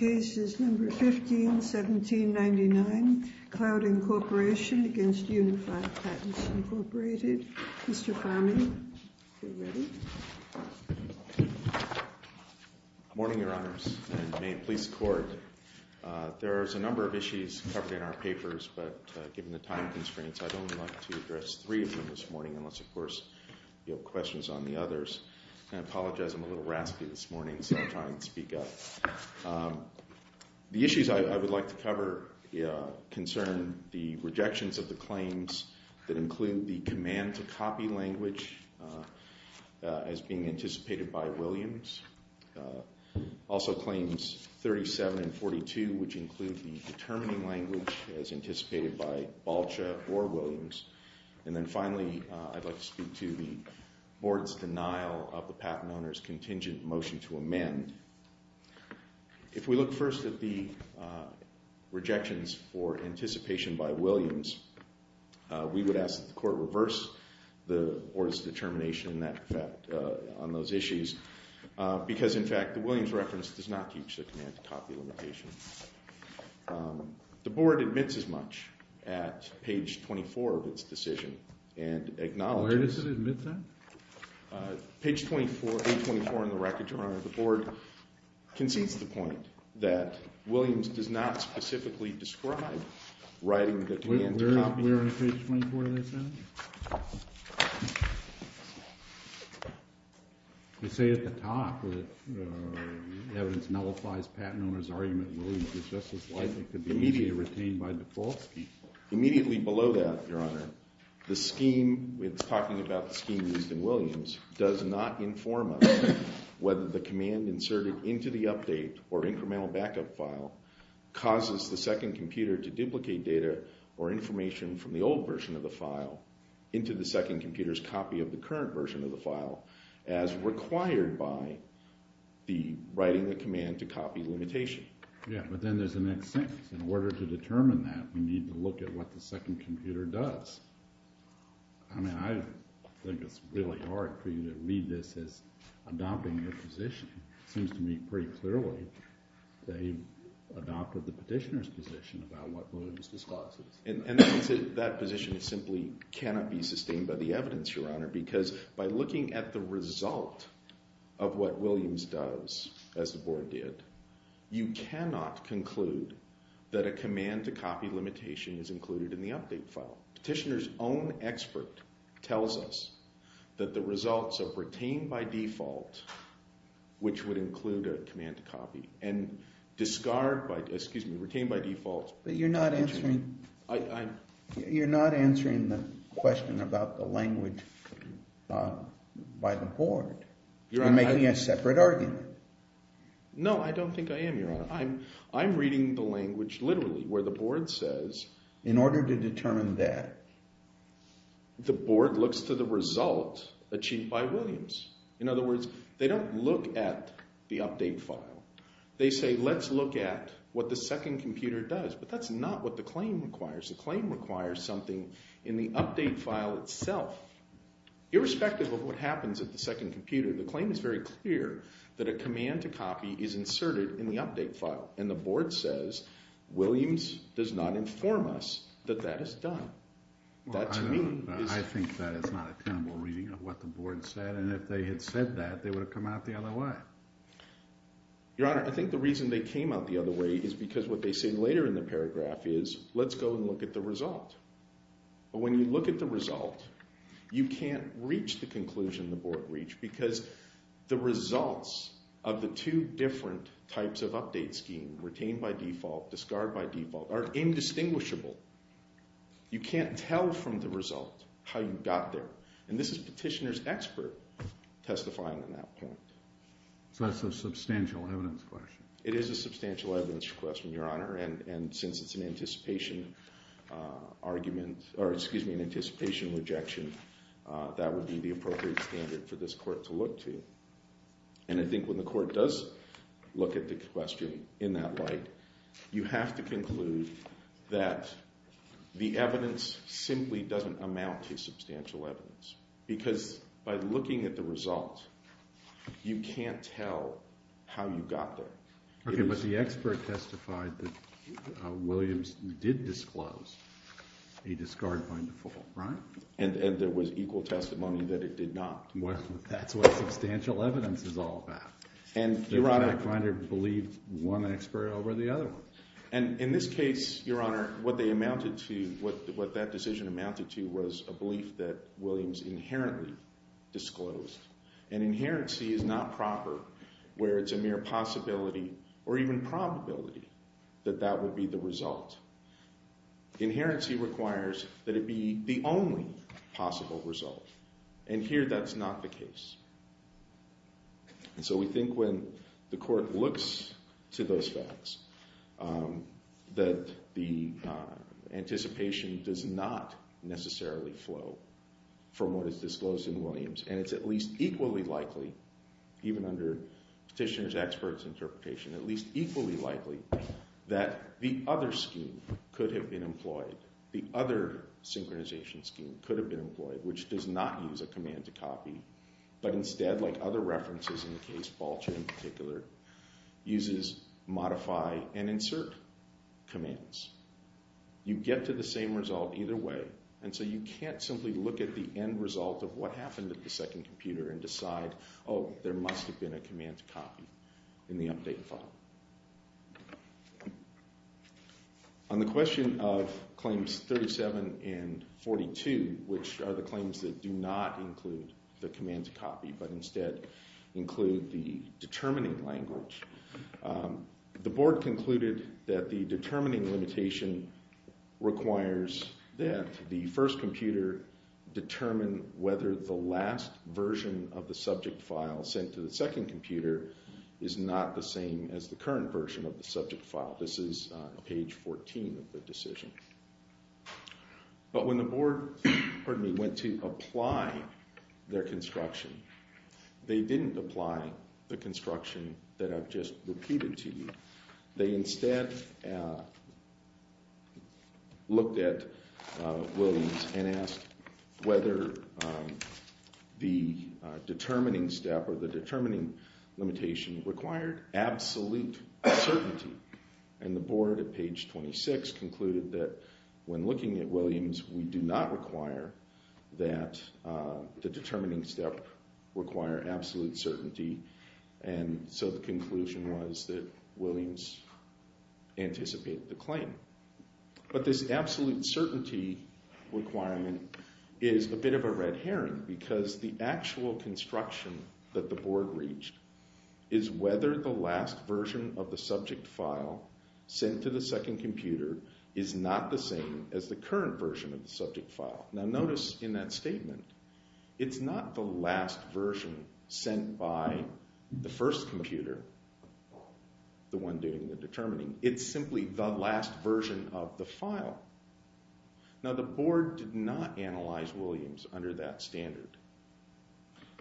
15-1799, Clouding Corporation v. Unified Patents, Inc. Mr. Farming, if you're ready. Good morning, Your Honors, and May it please the Court. There are a number of issues covered in our papers, but given the time constraints, I'd only like to address three of them this morning, unless, of course, you have questions on the others. And I apologize, I'm a little raspy this morning, so I'll try and speak up. The issues I would like to cover concern the rejections of the claims that include the command to copy language as being anticipated by Williams. Also, Claims 37 and 42, which include the determining language as anticipated by Balcha or Williams. And then finally, I'd like to speak to the Board's denial of the patent owner's contingent motion to amend. If we look first at the rejections for anticipation by Williams, we would ask that the Court reverse the Board's determination on those issues, because, in fact, the Williams reference does not teach the command to copy limitation. The Board admits as much at page 24 of its decision and acknowledges. Where does it admit that? Page 24, page 24 in the record, Your Honor. The Board concedes the point that Williams does not specifically describe writing the command to copy. Where on page 24 does that say? They say at the top that evidence nullifies patent owner's argument that Williams is just as likely to be immediately retained by the false scheme. Immediately below that, Your Honor, the scheme, it's talking about the scheme used in Williams, does not inform us whether the command inserted into the update or incremental backup file causes the second computer to duplicate data or information from the old version of the file into the second computer's copy of the current version of the file as required by the writing the command to copy limitation. Yeah, but then there's the next sentence. In order to determine that, we need to look at what the second computer does. I mean, I think it's really hard for you to read this as adopting a position. It seems to me pretty clearly that he adopted the petitioner's position about what Williams discloses. And that position simply cannot be sustained by the evidence, Your Honor, because by looking at the result of what Williams does, as the Board did, you cannot conclude that a command to copy limitation is included in the update file. Petitioner's own expert tells us that the results of retain by default, which would include a command to copy, and discard by – excuse me, retain by default. But you're not answering – you're not answering the question about the language by the Board. You're making a separate argument. No, I don't think I am, Your Honor. I'm reading the language literally where the Board says – In order to determine that. The Board looks to the result achieved by Williams. In other words, they don't look at the update file. They say let's look at what the second computer does. But that's not what the claim requires. The claim requires something in the update file itself. Irrespective of what happens at the second computer, the claim is very clear that a command to copy is inserted in the update file. And the Board says Williams does not inform us that that is done. That, to me, is – I think that is not a tenable reading of what the Board said, and if they had said that, they would have come out the other way. Your Honor, I think the reason they came out the other way is because what they say later in the paragraph is let's go and look at the result. But when you look at the result, you can't reach the conclusion the Board reached because the results of the two different types of update scheme – retain by default, discard by default – are indistinguishable. You can't tell from the result how you got there. And this is Petitioner's expert testifying on that point. So that's a substantial evidence question. It is a substantial evidence question, Your Honor, and since it's an anticipation argument – or excuse me, an anticipation rejection, that would be the appropriate standard for this Court to look to. And I think when the Court does look at the question in that light, you have to conclude that the evidence simply doesn't amount to substantial evidence. Because by looking at the result, you can't tell how you got there. Okay, but the expert testified that Williams did disclose a discard by default, right? And there was equal testimony that it did not. Well, that's what substantial evidence is all about. They're trying to believe one expert over the other one. And in this case, Your Honor, what they amounted to – what that decision amounted to was a belief that Williams inherently disclosed. And inherency is not proper where it's a mere possibility or even probability that that would be the result. Inherency requires that it be the only possible result. And here that's not the case. And so we think when the Court looks to those facts that the anticipation does not necessarily flow from what is disclosed in Williams. And it's at least equally likely, even under Petitioner's expert's interpretation, at least equally likely that the other scheme could have been employed. The other synchronization scheme could have been employed, which does not use a command-to-copy. But instead, like other references in the case, Balcher in particular, uses modify and insert commands. You get to the same result either way, and so you can't simply look at the end result of what happened at the second computer and decide, oh, there must have been a command-to-copy in the update file. On the question of Claims 37 and 42, which are the claims that do not include the command-to-copy but instead include the determining language, the Board concluded that the determining limitation requires that the first computer determine whether the last version of the subject file sent to the second computer is not the same as the current version of the subject file. This is page 14 of the decision. But when the Board went to apply their construction, they didn't apply the construction that I've just repeated to you. They instead looked at Williams and asked whether the determining step or the determining limitation required absolute certainty. And the Board at page 26 concluded that when looking at Williams, we do not require that the determining step require absolute certainty. And so the conclusion was that Williams anticipated the claim. But this absolute certainty requirement is a bit of a red herring because the actual construction that the Board reached is whether the last version of the subject file sent to the second computer is not the same as the current version of the subject file. Now notice in that statement, it's not the last version sent by the first computer, the one doing the determining. It's simply the last version of the file. Now the Board did not analyze Williams under that standard.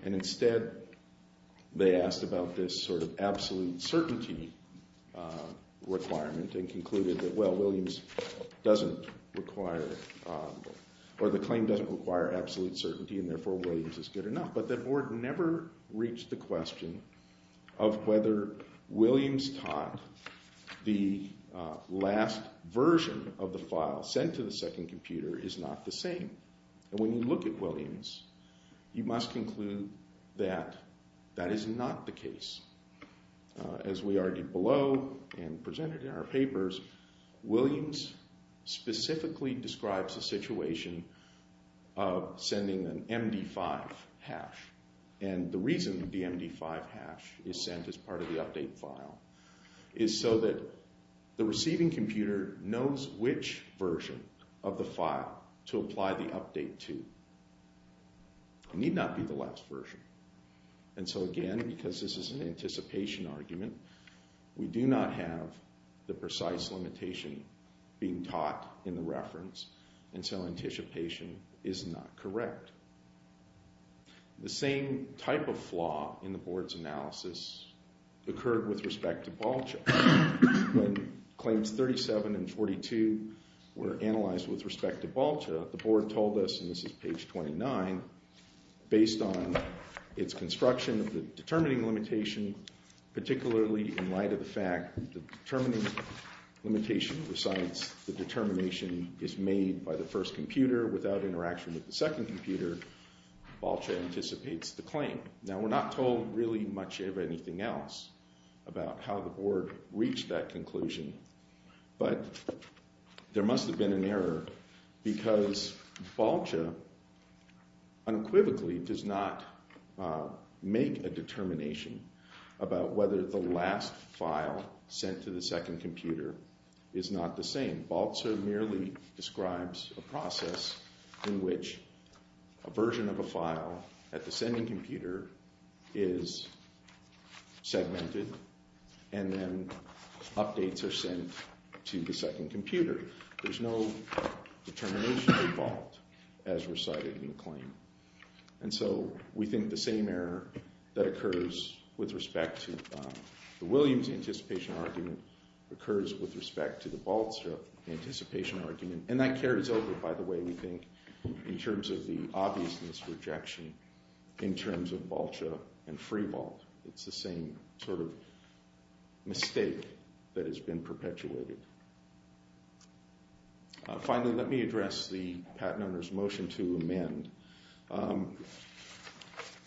And instead, they asked about this sort of absolute certainty requirement and concluded that, well, Williams doesn't require or the claim doesn't require absolute certainty and therefore Williams is good enough. But the Board never reached the question of whether Williams taught the last version of the file sent to the second computer is not the same. And when you look at Williams, you must conclude that that is not the case. As we argued below and presented in our papers, Williams specifically describes a situation of sending an MD5 hash. And the reason the MD5 hash is sent as part of the update file is so that the receiving computer knows which version of the file to apply the update to. It need not be the last version. And so again, because this is an anticipation argument, we do not have the precise limitation being taught in the reference and so anticipation is not correct. The same type of flaw in the Board's analysis occurred with respect to Balcha. When claims 37 and 42 were analyzed with respect to Balcha, the Board told us, and this is page 29, based on its construction of the determining limitation, particularly in light of the fact that the determining limitation recites the determination is made by the first computer without interaction with the second computer, Balcha anticipates the claim. Now we're not told really much of anything else about how the Board reached that conclusion, but there must have been an error because Balcha unequivocally does not make a determination about whether the last file sent to the second computer is not the same. Balcha merely describes a process in which a version of a file at the sending computer is segmented and then updates are sent to the second computer. There's no determination involved as recited in the claim. And so we think the same error that occurs with respect to the Williams anticipation argument occurs with respect to the Balcha anticipation argument, and that carries over, by the way, we think, in terms of the obviousness rejection in terms of Balcha and FreeWalt. It's the same sort of mistake that has been perpetuated. Finally, let me address the patent owner's motion to amend.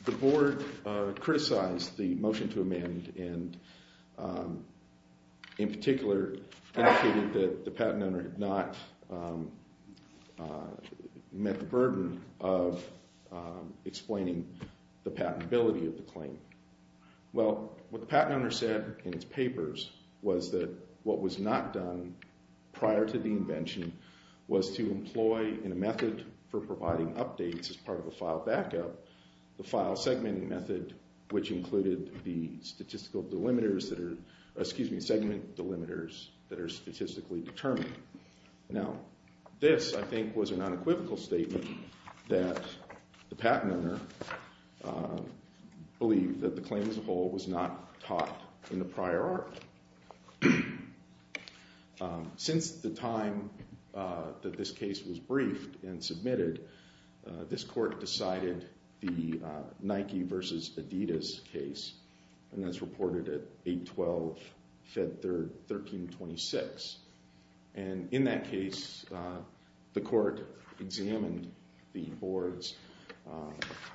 The Board criticized the motion to amend and in particular indicated that the patent owner had not met the burden of explaining the patentability of the claim. Well, what the patent owner said in his papers was that what was not done prior to the invention was to employ in a method for providing updates as part of a file backup, the file segmenting method which included the segment delimiters that are statistically determined. Now, this, I think, was an unequivocal statement that the patent owner believed that the claim as a whole was not taught in the prior art. Since the time that this case was briefed and submitted, this court decided the Nike versus Adidas case, and that's reported at 8-12, Feb. 3, 1326. In that case, the court examined the Board's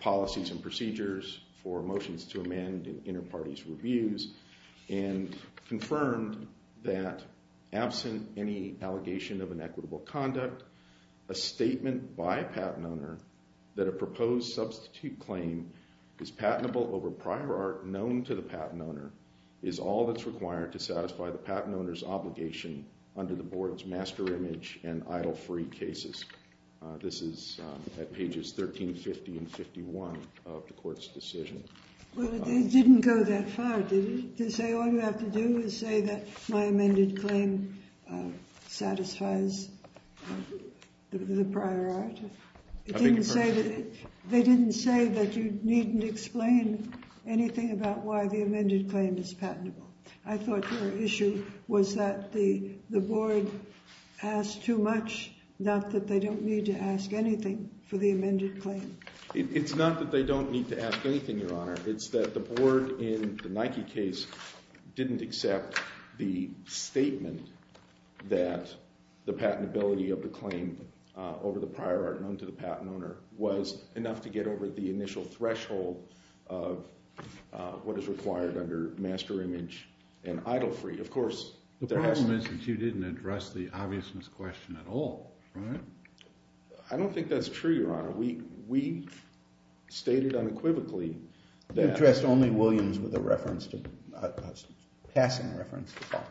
policies and procedures for motions to amend in inter-parties reviews and confirmed that absent any allegation of inequitable conduct, a statement by a patent owner that a proposed substitute claim is patentable over prior art known to the patent owner is all that's required to satisfy the patent owner's obligation under the Board's master image and idle-free cases. This is at pages 1350 and 1351 of the court's decision. Well, it didn't go that far, did it? To say all you have to do is say that my amended claim satisfies the prior art? I think you're correct. They didn't say that you needn't explain anything about why the amended claim is patentable. I thought your issue was that the Board asked too much, not that they don't need to ask anything for the amended claim. It's not that they don't need to ask anything, Your Honor. It's that the Board in the Nike case didn't accept the statement that the patentability of the claim over the prior art known to the patent owner was enough to get over the initial threshold of what is required under master image and idle-free. Of course, there has to be— The problem is that you didn't address the obviousness question at all, right? I don't think that's true, Your Honor. We stated unequivocally that— You addressed only Williams with a passing reference to Hart.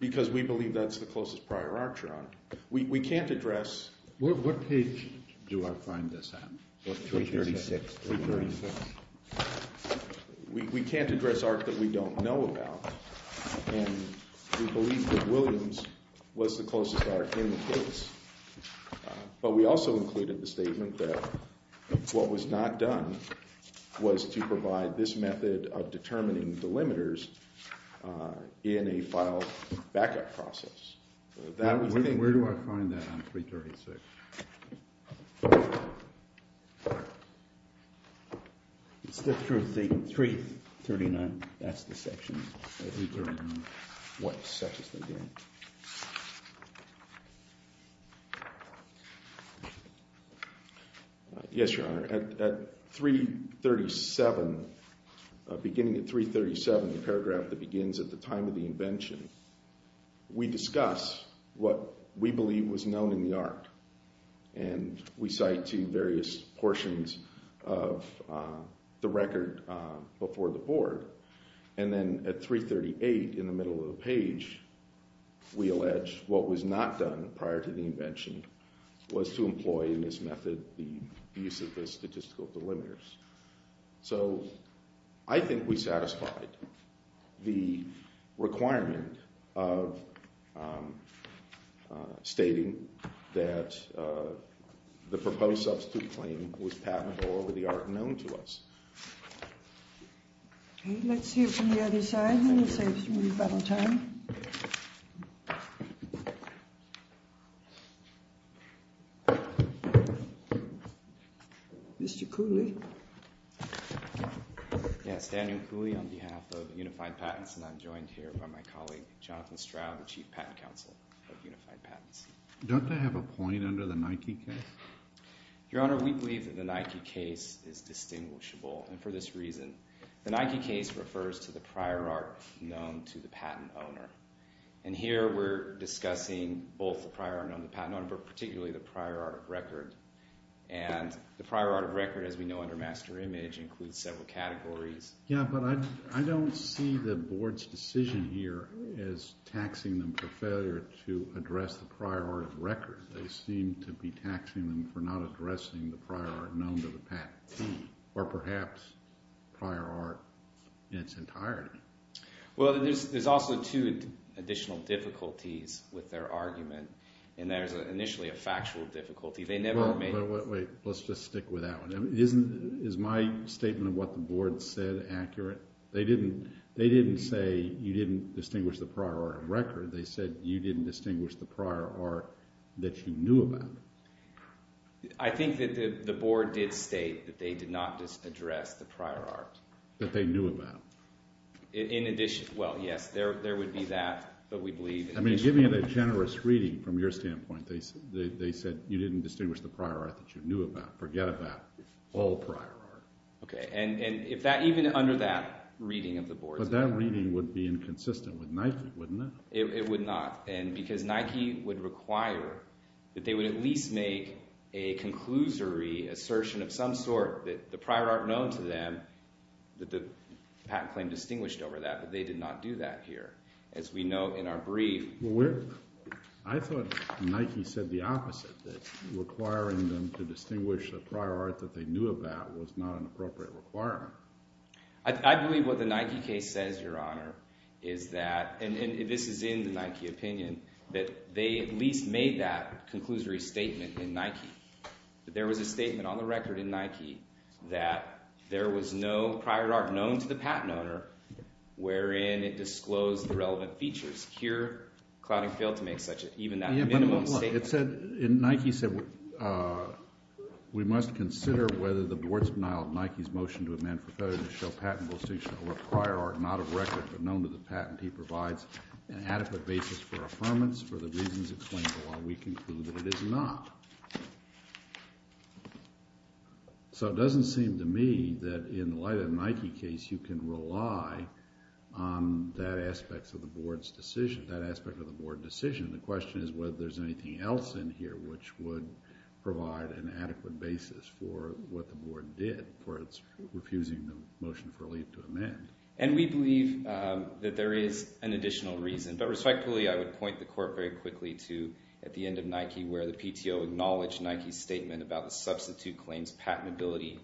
Because we believe that's the closest prior art, Your Honor. We can't address— What page do I find this at? Page 36. Page 36. We can't address art that we don't know about, and we believe that Williams was the closest art in the case. But we also included the statement that what was not done was to provide this method of determining the limiters in a file backup process. That was the— Where do I find that on 336? It's the truth—339. That's the section. What section is that again? Yes, Your Honor. At 337, beginning at 337, the paragraph that begins at the time of the invention, we discuss what we believe was known in the art. And we cite two various portions of the record before the board. And then at 338, in the middle of the page, we allege what was not done prior to the invention was to employ in this method the use of the statistical delimiters. So I think we satisfied the requirement of stating that the proposed substitute claim was patentable over the art known to us. Okay, let's hear from the other side, and we'll save some rebuttal time. Mr. Cooley? Yes, Daniel Cooley on behalf of Unified Patents, and I'm joined here by my colleague, Jonathan Stroud, the chief patent counsel of Unified Patents. Don't they have a point under the Nike case? Your Honor, we believe that the Nike case is distinguishable, and for this reason. The Nike case refers to the prior art known to the patent owner. And here we're discussing both the prior art known to the patent owner, but particularly the prior art of record. And the prior art of record, as we know under master image, includes several categories. Yeah, but I don't see the board's decision here as taxing them for failure to address the prior art of record. They seem to be taxing them for not addressing the prior art known to the patent team, or perhaps prior art in its entirety. Well, there's also two additional difficulties with their argument, and there's initially a factual difficulty. Wait, let's just stick with that one. Is my statement of what the board said accurate? They didn't say you didn't distinguish the prior art of record. They said you didn't distinguish the prior art that you knew about. I think that the board did state that they did not address the prior art. That they knew about. Well, yes, there would be that, but we believe— I mean, giving it a generous reading from your standpoint, they said you didn't distinguish the prior art that you knew about. Forget about all prior art. Okay, and even under that reading of the board's— But that reading would be inconsistent with Nike, wouldn't it? It would not, because Nike would require that they would at least make a conclusory assertion of some sort that the prior art known to them that the patent claim distinguished over that, but they did not do that here. As we know in our brief— I thought Nike said the opposite, that requiring them to distinguish the prior art that they knew about was not an appropriate requirement. I believe what the Nike case says, Your Honor, is that—and this is in the Nike opinion— that they at least made that conclusory statement in Nike. That there was a statement on the record in Nike that there was no prior art known to the patent owner wherein it disclosed the relevant features. Here, Clouding failed to make even that minimum statement. Yeah, but look, it said—Nike said, We must consider whether the board's denial of Nike's motion to amend Procedure to show patent jurisdiction over prior art not of record but known to the patentee provides an adequate basis for affirmance for the reasons explained while we conclude that it is not. So it doesn't seem to me that in light of the Nike case, you can rely on that aspect of the board's decision, that aspect of the board decision. The question is whether there's anything else in here which would provide an adequate basis for what the board did for its refusing the motion of relief to amend. And we believe that there is an additional reason. But respectfully, I would point the court very quickly to at the end of Nike where the PTO acknowledged Nike's statement about the substitute claims patentability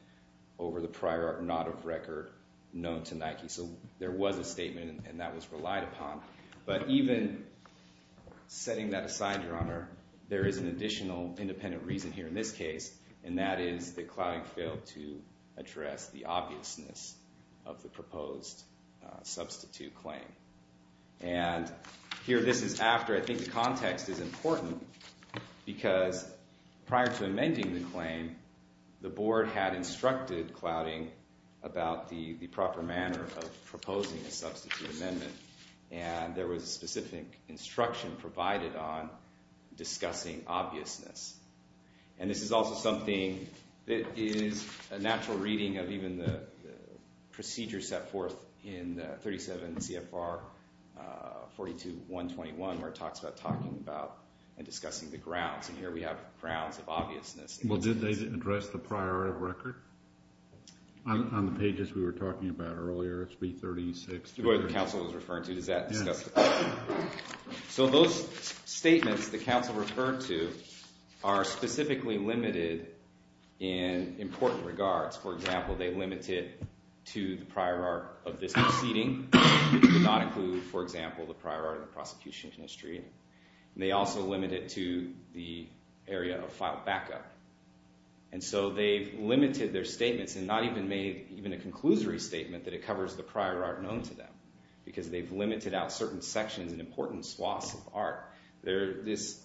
over the prior art not of record known to Nike. So there was a statement, and that was relied upon. But even setting that aside, Your Honor, there is an additional independent reason here in this case, and that is that Clouding failed to address the obviousness of the proposed substitute claim. And here this is after I think the context is important because prior to amending the claim, the board had instructed Clouding about the proper manner of proposing a substitute amendment. And there was a specific instruction provided on discussing obviousness. And this is also something that is a natural reading of even the procedure set forth in 37 CFR 42-121 where it talks about talking about and discussing the grounds. And here we have grounds of obviousness. Well, did they address the prior art of record on the pages we were talking about earlier, SB 36? What the counsel was referring to, does that discuss the prior art of record? So those statements the counsel referred to are specifically limited in important regards. For example, they limit it to the prior art of this proceeding. It did not include, for example, the prior art of the prosecution history. And they also limit it to the area of filed backup. And so they've limited their statements and not even made even a conclusory statement that it covers the prior art known to them because they've limited out certain sections and important swaths of art. This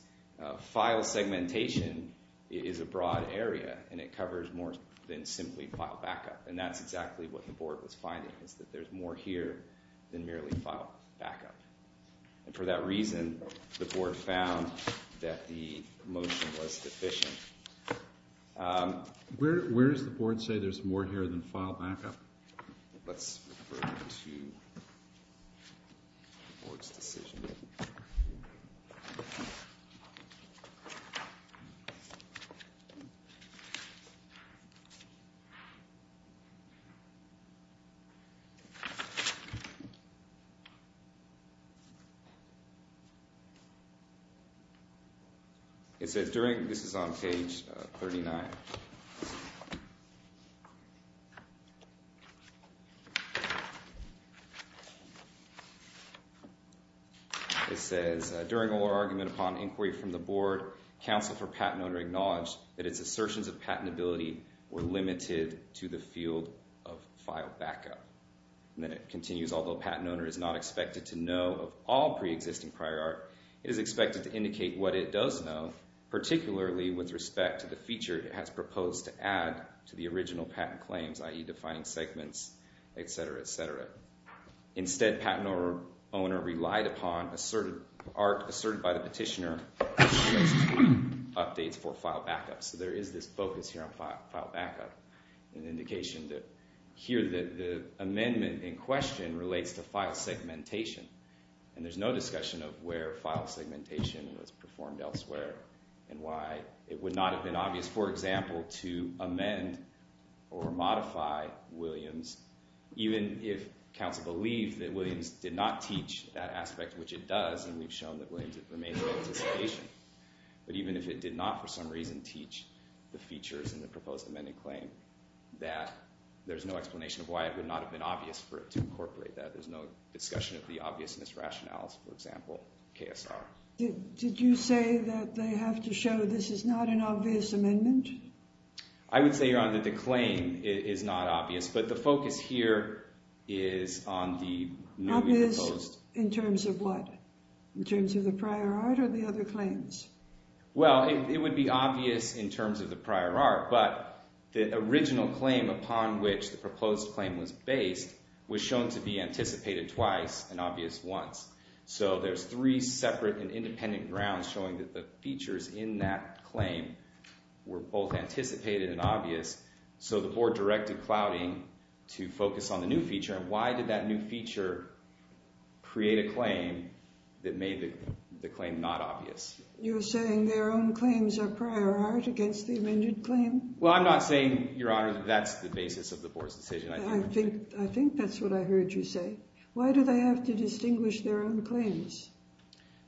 file segmentation is a broad area, and it covers more than simply file backup. And that's exactly what the board was finding is that there's more here than merely file backup. And for that reason, the board found that the motion was deficient. Where does the board say there's more here than file backup? Let's refer to the board's decision. This is on page 39. It says, during oral argument upon inquiry from the board, counsel for patent owner acknowledged that its assertions of patentability were limited to the field of file backup. And then it continues, although patent owner is not expected to know of all preexisting prior art, it is expected to indicate what it does know, particularly with respect to the feature it has proposed to add to the original patent claims, i.e. defining segments, etc., etc. Instead, patent owner relied upon art asserted by the petitioner for updates for file backup. So there is this focus here on file backup, an indication that here the amendment in question relates to file segmentation. And there's no discussion of where file segmentation was performed elsewhere and why it would not have been obvious, for example, to amend or modify Williams, even if counsel believed that Williams did not teach that aspect, which it does. And we've shown that Williams remains in anticipation. But even if it did not, for some reason, teach the features in the proposed amended claim, that there's no explanation of why it would not have been obvious for it to incorporate that. There's no discussion of the obviousness rationales, for example, KSR. Did you say that they have to show this is not an obvious amendment? I would say, Your Honor, that the claim is not obvious, but the focus here is on the newly proposed— Obvious in terms of what? In terms of the prior art or the other claims? Well, it would be obvious in terms of the prior art, but the original claim upon which the proposed claim was based was shown to be anticipated twice and obvious once. So there's three separate and independent grounds showing that the features in that claim were both anticipated and obvious. So the board directed Clouding to focus on the new feature, and why did that new feature create a claim that made the claim not obvious? You're saying their own claims are prior art against the amended claim? Well, I'm not saying, Your Honor, that that's the basis of the board's decision. I think that's what I heard you say. Why do they have to distinguish their own claims?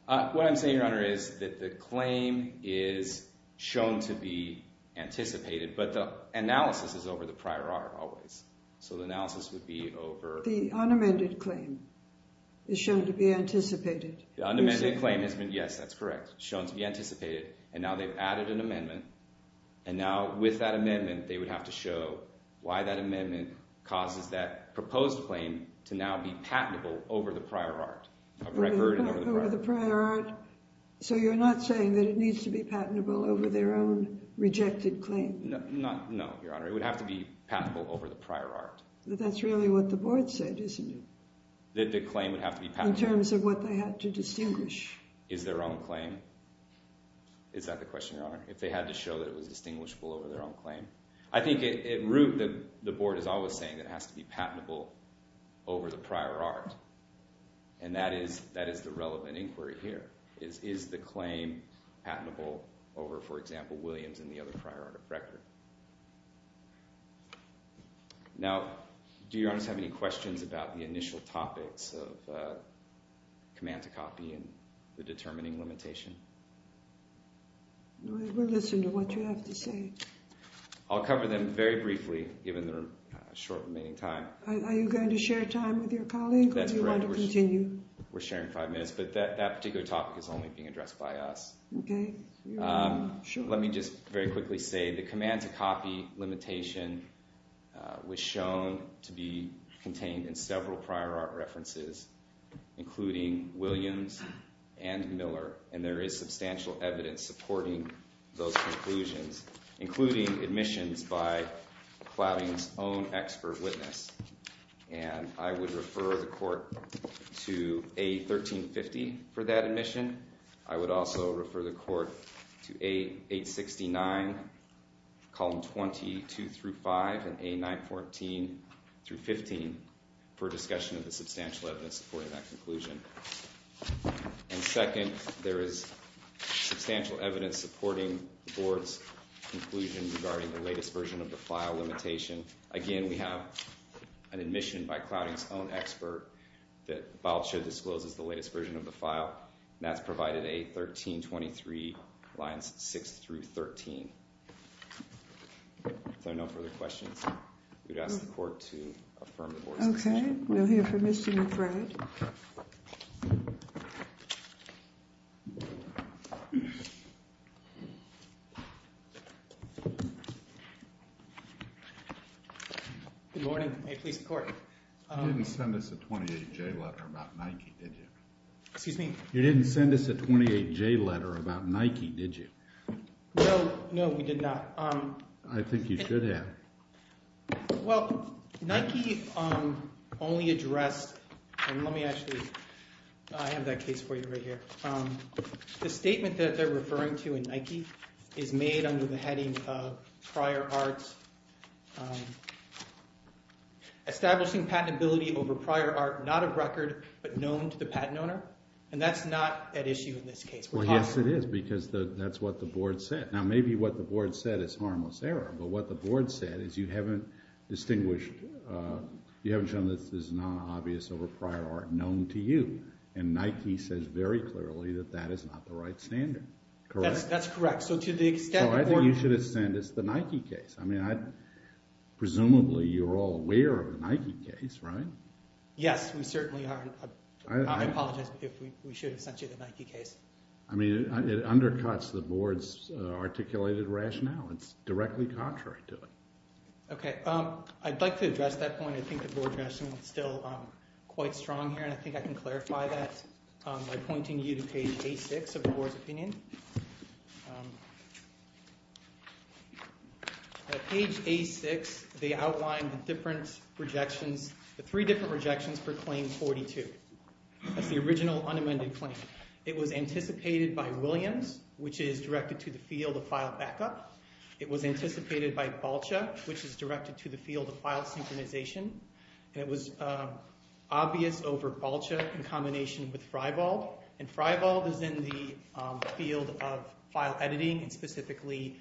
What I'm saying, Your Honor, is that the claim is shown to be anticipated, but the analysis is over the prior art always. So the analysis would be over— The unamended claim is shown to be anticipated. The unamended claim has been—yes, that's correct—shown to be anticipated, and now they've added an amendment. And now with that amendment, they would have to show why that amendment causes that proposed claim to now be patentable over the prior art. Over the prior art. So you're not saying that it needs to be patentable over their own rejected claim? No, Your Honor. It would have to be patentable over the prior art. But that's really what the board said, isn't it? That the claim would have to be patentable. In terms of what they had to distinguish. Is their own claim? Is that the question, Your Honor? If they had to show that it was distinguishable over their own claim? I think at root, the board is always saying that it has to be patentable over the prior art. And that is the relevant inquiry here. Is the claim patentable over, for example, Williams and the other prior art of record? Now, do Your Honors have any questions about the initial topics of command-to-copy and the determining limitation? Do I ever listen to what you have to say? I'll cover them very briefly, given the short remaining time. Are you going to share time with your colleague, or do you want to continue? We're sharing five minutes, but that particular topic is only being addressed by us. Okay. Let me just very quickly say the command-to-copy limitation was shown to be contained in several prior art references. Including Williams and Miller. And there is substantial evidence supporting those conclusions. Including admissions by Clouting's own expert witness. And I would refer the court to A1350 for that admission. I would also refer the court to A869, column 22-5, and A914-15 for discussion of the substantial evidence supporting that conclusion. And second, there is substantial evidence supporting the board's conclusion regarding the latest version of the file limitation. Again, we have an admission by Clouting's own expert that Bob should disclose the latest version of the file. And that's provided A1323, lines 6-13. If there are no further questions, we would ask the court to affirm the board's decision. Okay. We'll hear from Mr. McBride. Good morning. May it please the court. You didn't send us a 28-J letter about Nike, did you? Excuse me? You didn't send us a 28-J letter about Nike, did you? No. No, we did not. I think you should have. Well, Nike only addressed, and let me actually, I have that case for you right here. The statement that they're referring to in Nike is made under the heading of establishing patentability over prior art not of record but known to the patent owner. And that's not at issue in this case. Well, yes, it is, because that's what the board said. Now, maybe what the board said is harmless error, but what the board said is you haven't distinguished, you haven't shown that this is not obvious over prior art known to you. And Nike says very clearly that that is not the right standard, correct? That's correct. So to the extent that the board So I think you should have sent us the Nike case. I mean, presumably you're all aware of the Nike case, right? Yes, we certainly are. I apologize, but we should have sent you the Nike case. I mean, it undercuts the board's articulated rationale. It's directly contrary to it. Okay. I'd like to address that point. I think the board rationale is still quite strong here. And I think I can clarify that by pointing you to page A6 of the board's opinion. At page A6, they outlined the different rejections, the three different rejections for claim 42. That's the original unamended claim. It was anticipated by Williams, which is directed to the field of file backup. It was anticipated by Balcha, which is directed to the field of file synchronization. And it was obvious over Balcha in combination with Freibald. And Freibald is in the field of file editing and specifically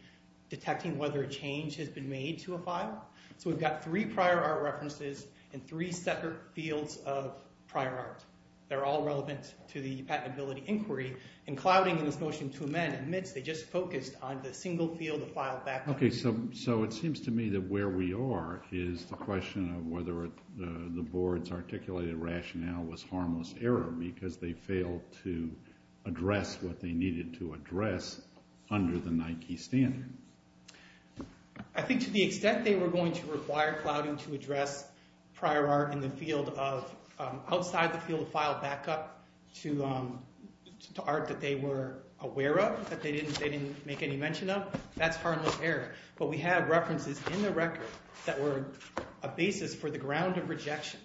detecting whether a change has been made to a file. So we've got three prior art references and three separate fields of prior art. They're all relevant to the patentability inquiry. And clouding in this motion to amend admits they just focused on the single field of file backup. Okay, so it seems to me that where we are is the question of whether the board's articulated rationale was harmless error because they failed to address what they needed to address under the Nike standard. I think to the extent they were going to require clouding to address prior art in the field of – prior art that they were aware of, that they didn't make any mention of, that's harmless error. But we have references in the record that were a basis for the ground of rejection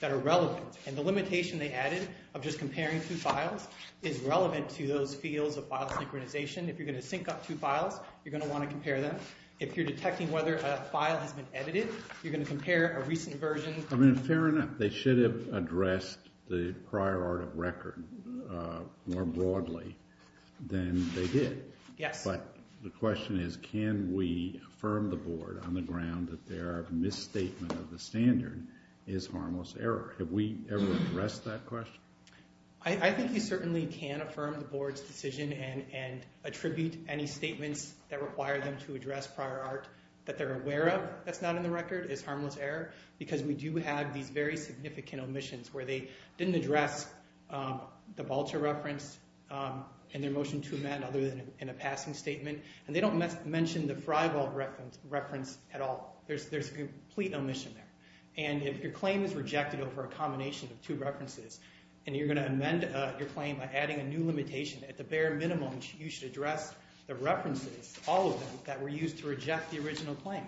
that are relevant. And the limitation they added of just comparing two files is relevant to those fields of file synchronization. If you're going to sync up two files, you're going to want to compare them. If you're detecting whether a file has been edited, you're going to compare a recent version. I mean, fair enough. They should have addressed the prior art of record more broadly than they did. Yes. But the question is can we affirm the board on the ground that their misstatement of the standard is harmless error? Have we ever addressed that question? I think you certainly can affirm the board's decision and attribute any statements that require them to address prior art that they're aware of that's not in the record is harmless error because we do have these very significant omissions where they didn't address the Vulture reference in their motion to amend other than in a passing statement. And they don't mention the Freibolt reference at all. There's a complete omission there. And if your claim is rejected over a combination of two references and you're going to amend your claim by adding a new limitation, at the bare minimum you should address the references, all of them, that were used to reject the original claim.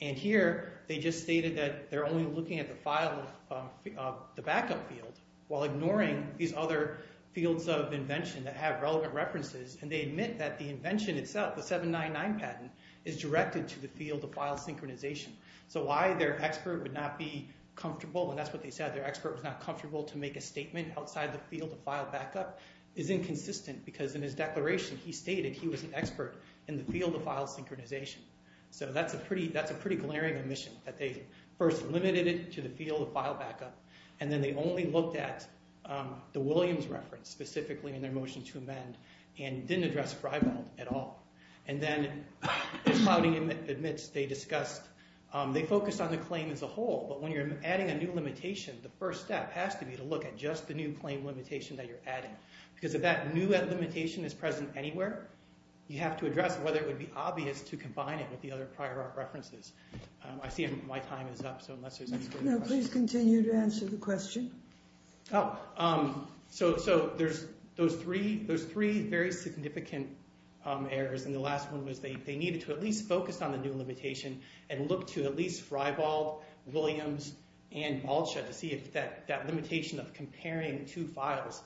And here they just stated that they're only looking at the backup field while ignoring these other fields of invention that have relevant references. And they admit that the invention itself, the 799 patent, is directed to the field of file synchronization. So why their expert would not be comfortable, and that's what they said, why their expert was not comfortable to make a statement outside the field of file backup is inconsistent because in his declaration he stated he was an expert in the field of file synchronization. So that's a pretty glaring omission that they first limited it to the field of file backup, and then they only looked at the Williams reference specifically in their motion to amend and didn't address Freibolt at all. And then, as Cloudy admits, they discussed, they focused on the claim as a whole, but when you're adding a new limitation, the first step has to be to look at just the new claim limitation that you're adding. Because if that new limitation is present anywhere, you have to address whether it would be obvious to combine it with the other prior art references. I see my time is up, so unless there's any further questions. No, please continue to answer the question. Oh, so there's three very significant errors, and the last one was they needed to at least focus on the new limitation and look to at least Freibolt, Williams, and Balsha to see if that limitation of comparing two files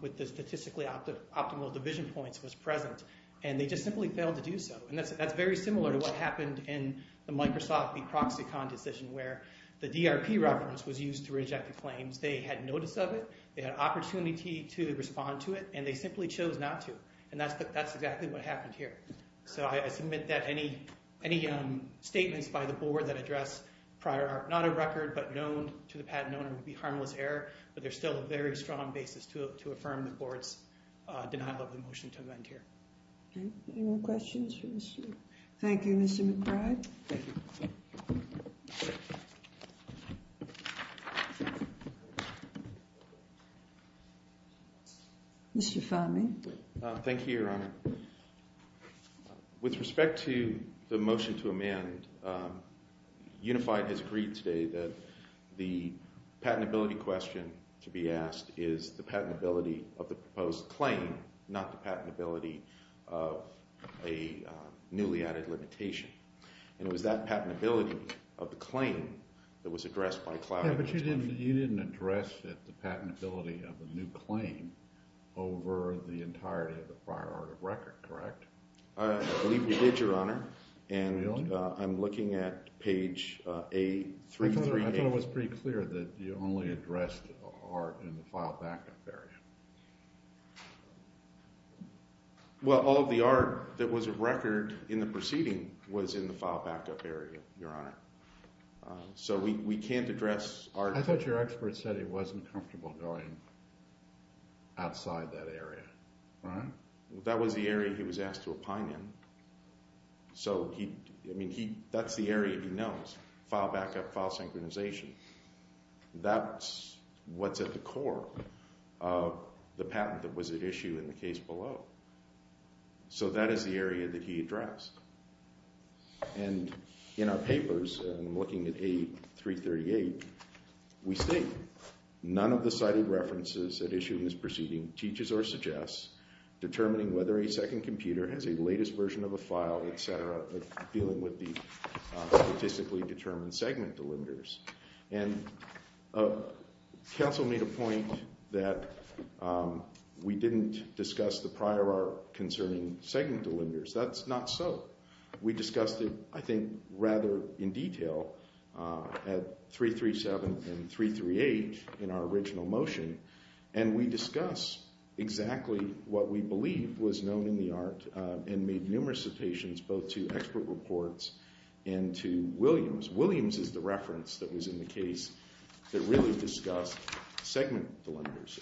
with the statistically optimal division points was present, and they just simply failed to do so. And that's very similar to what happened in the Microsoft v. Proxicon decision where the DRP reference was used to reject the claims. They had notice of it, they had opportunity to respond to it, and they simply chose not to. And that's exactly what happened here. So I submit that any statements by the board that address prior art, not a record but known to the patent owner, would be harmless error, but there's still a very strong basis to affirm the board's denial of the motion to amend here. Any more questions for this group? Thank you, Mr. McBride. Thank you. Mr. Fahmy. Thank you, Your Honor. With respect to the motion to amend, Unified has agreed today that the patentability question to be asked is the patentability of the proposed claim, not the patentability of a newly added limitation. And it was that patentability of the claim that was addressed by Cloud. Yeah, but you didn't address the patentability of a new claim over the entirety of the prior art of record, correct? I believe we did, Your Honor. Really? And I'm looking at page A338. I thought it was pretty clear that you only addressed art in the file backup area. Well, all of the art that was a record in the proceeding was in the file backup area, Your Honor. So we can't address art. I thought your expert said he wasn't comfortable going outside that area, right? That was the area he was asked to opine in. So, I mean, that's the area he knows, file backup, file synchronization. That's what's at the core of the patent that was at issue in the case below. So that is the area that he addressed. And in our papers, I'm looking at A338, we state, none of the cited references at issue in this proceeding teaches or suggests determining whether a second computer has a latest version of a file, et cetera, of dealing with the statistically determined segment delimiters. And counsel made a point that we didn't discuss the prior art concerning segment delimiters. That's not so. We discussed it, I think, rather in detail at 337 and 338 in our original motion, and we discussed exactly what we believe was known in the art and made numerous citations both to expert reports and to Williams. Williams is the reference that was in the case that really discussed segment delimiters.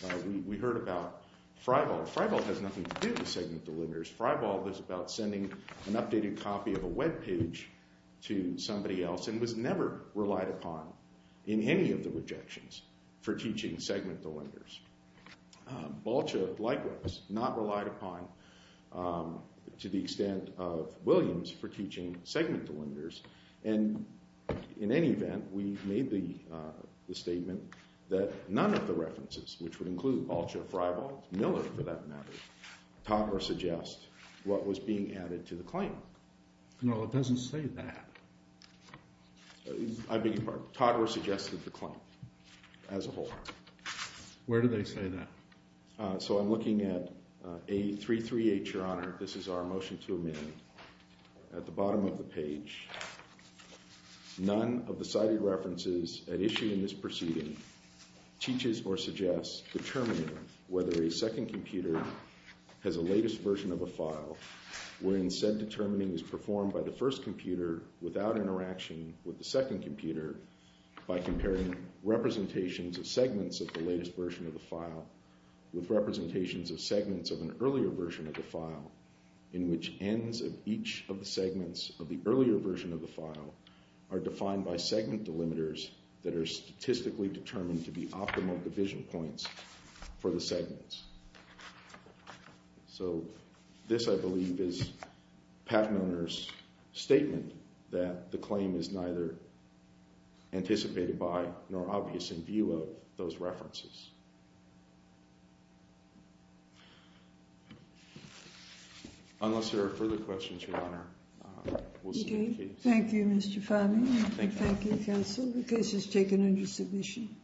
We heard about Freibold. Freibold has nothing to do with segment delimiters. Freibold is about sending an updated copy of a web page to somebody else and was never relied upon in any of the rejections for teaching segment delimiters. Balcha likewise, not relied upon to the extent of Williams for teaching segment delimiters. And in any event, we made the statement that none of the references, which would include Balcha, Freibold, Miller for that matter, taught or suggest what was being added to the claim. No, it doesn't say that. I beg your pardon? Taught or suggested the claim as a whole. Where do they say that? So I'm looking at A338, Your Honor. This is our motion to amend. At the bottom of the page, none of the cited references at issue in this proceeding teaches or suggests determining whether a second computer has a latest version of a file wherein said determining is performed by the first computer without interaction with the second computer by comparing representations of segments of the latest version of the file with representations of segments of an earlier version of the file in which ends of each of the segments of the earlier version of the file are defined by segment delimiters that are statistically determined to be optimal division points for the segments. So this, I believe, is Pat Moner's statement that the claim is neither anticipated by nor obvious in view of those references. Unless there are further questions, Your Honor, we'll see you in case. Thank you, Mr. Farley. Thank you, counsel. The case is taken under submission.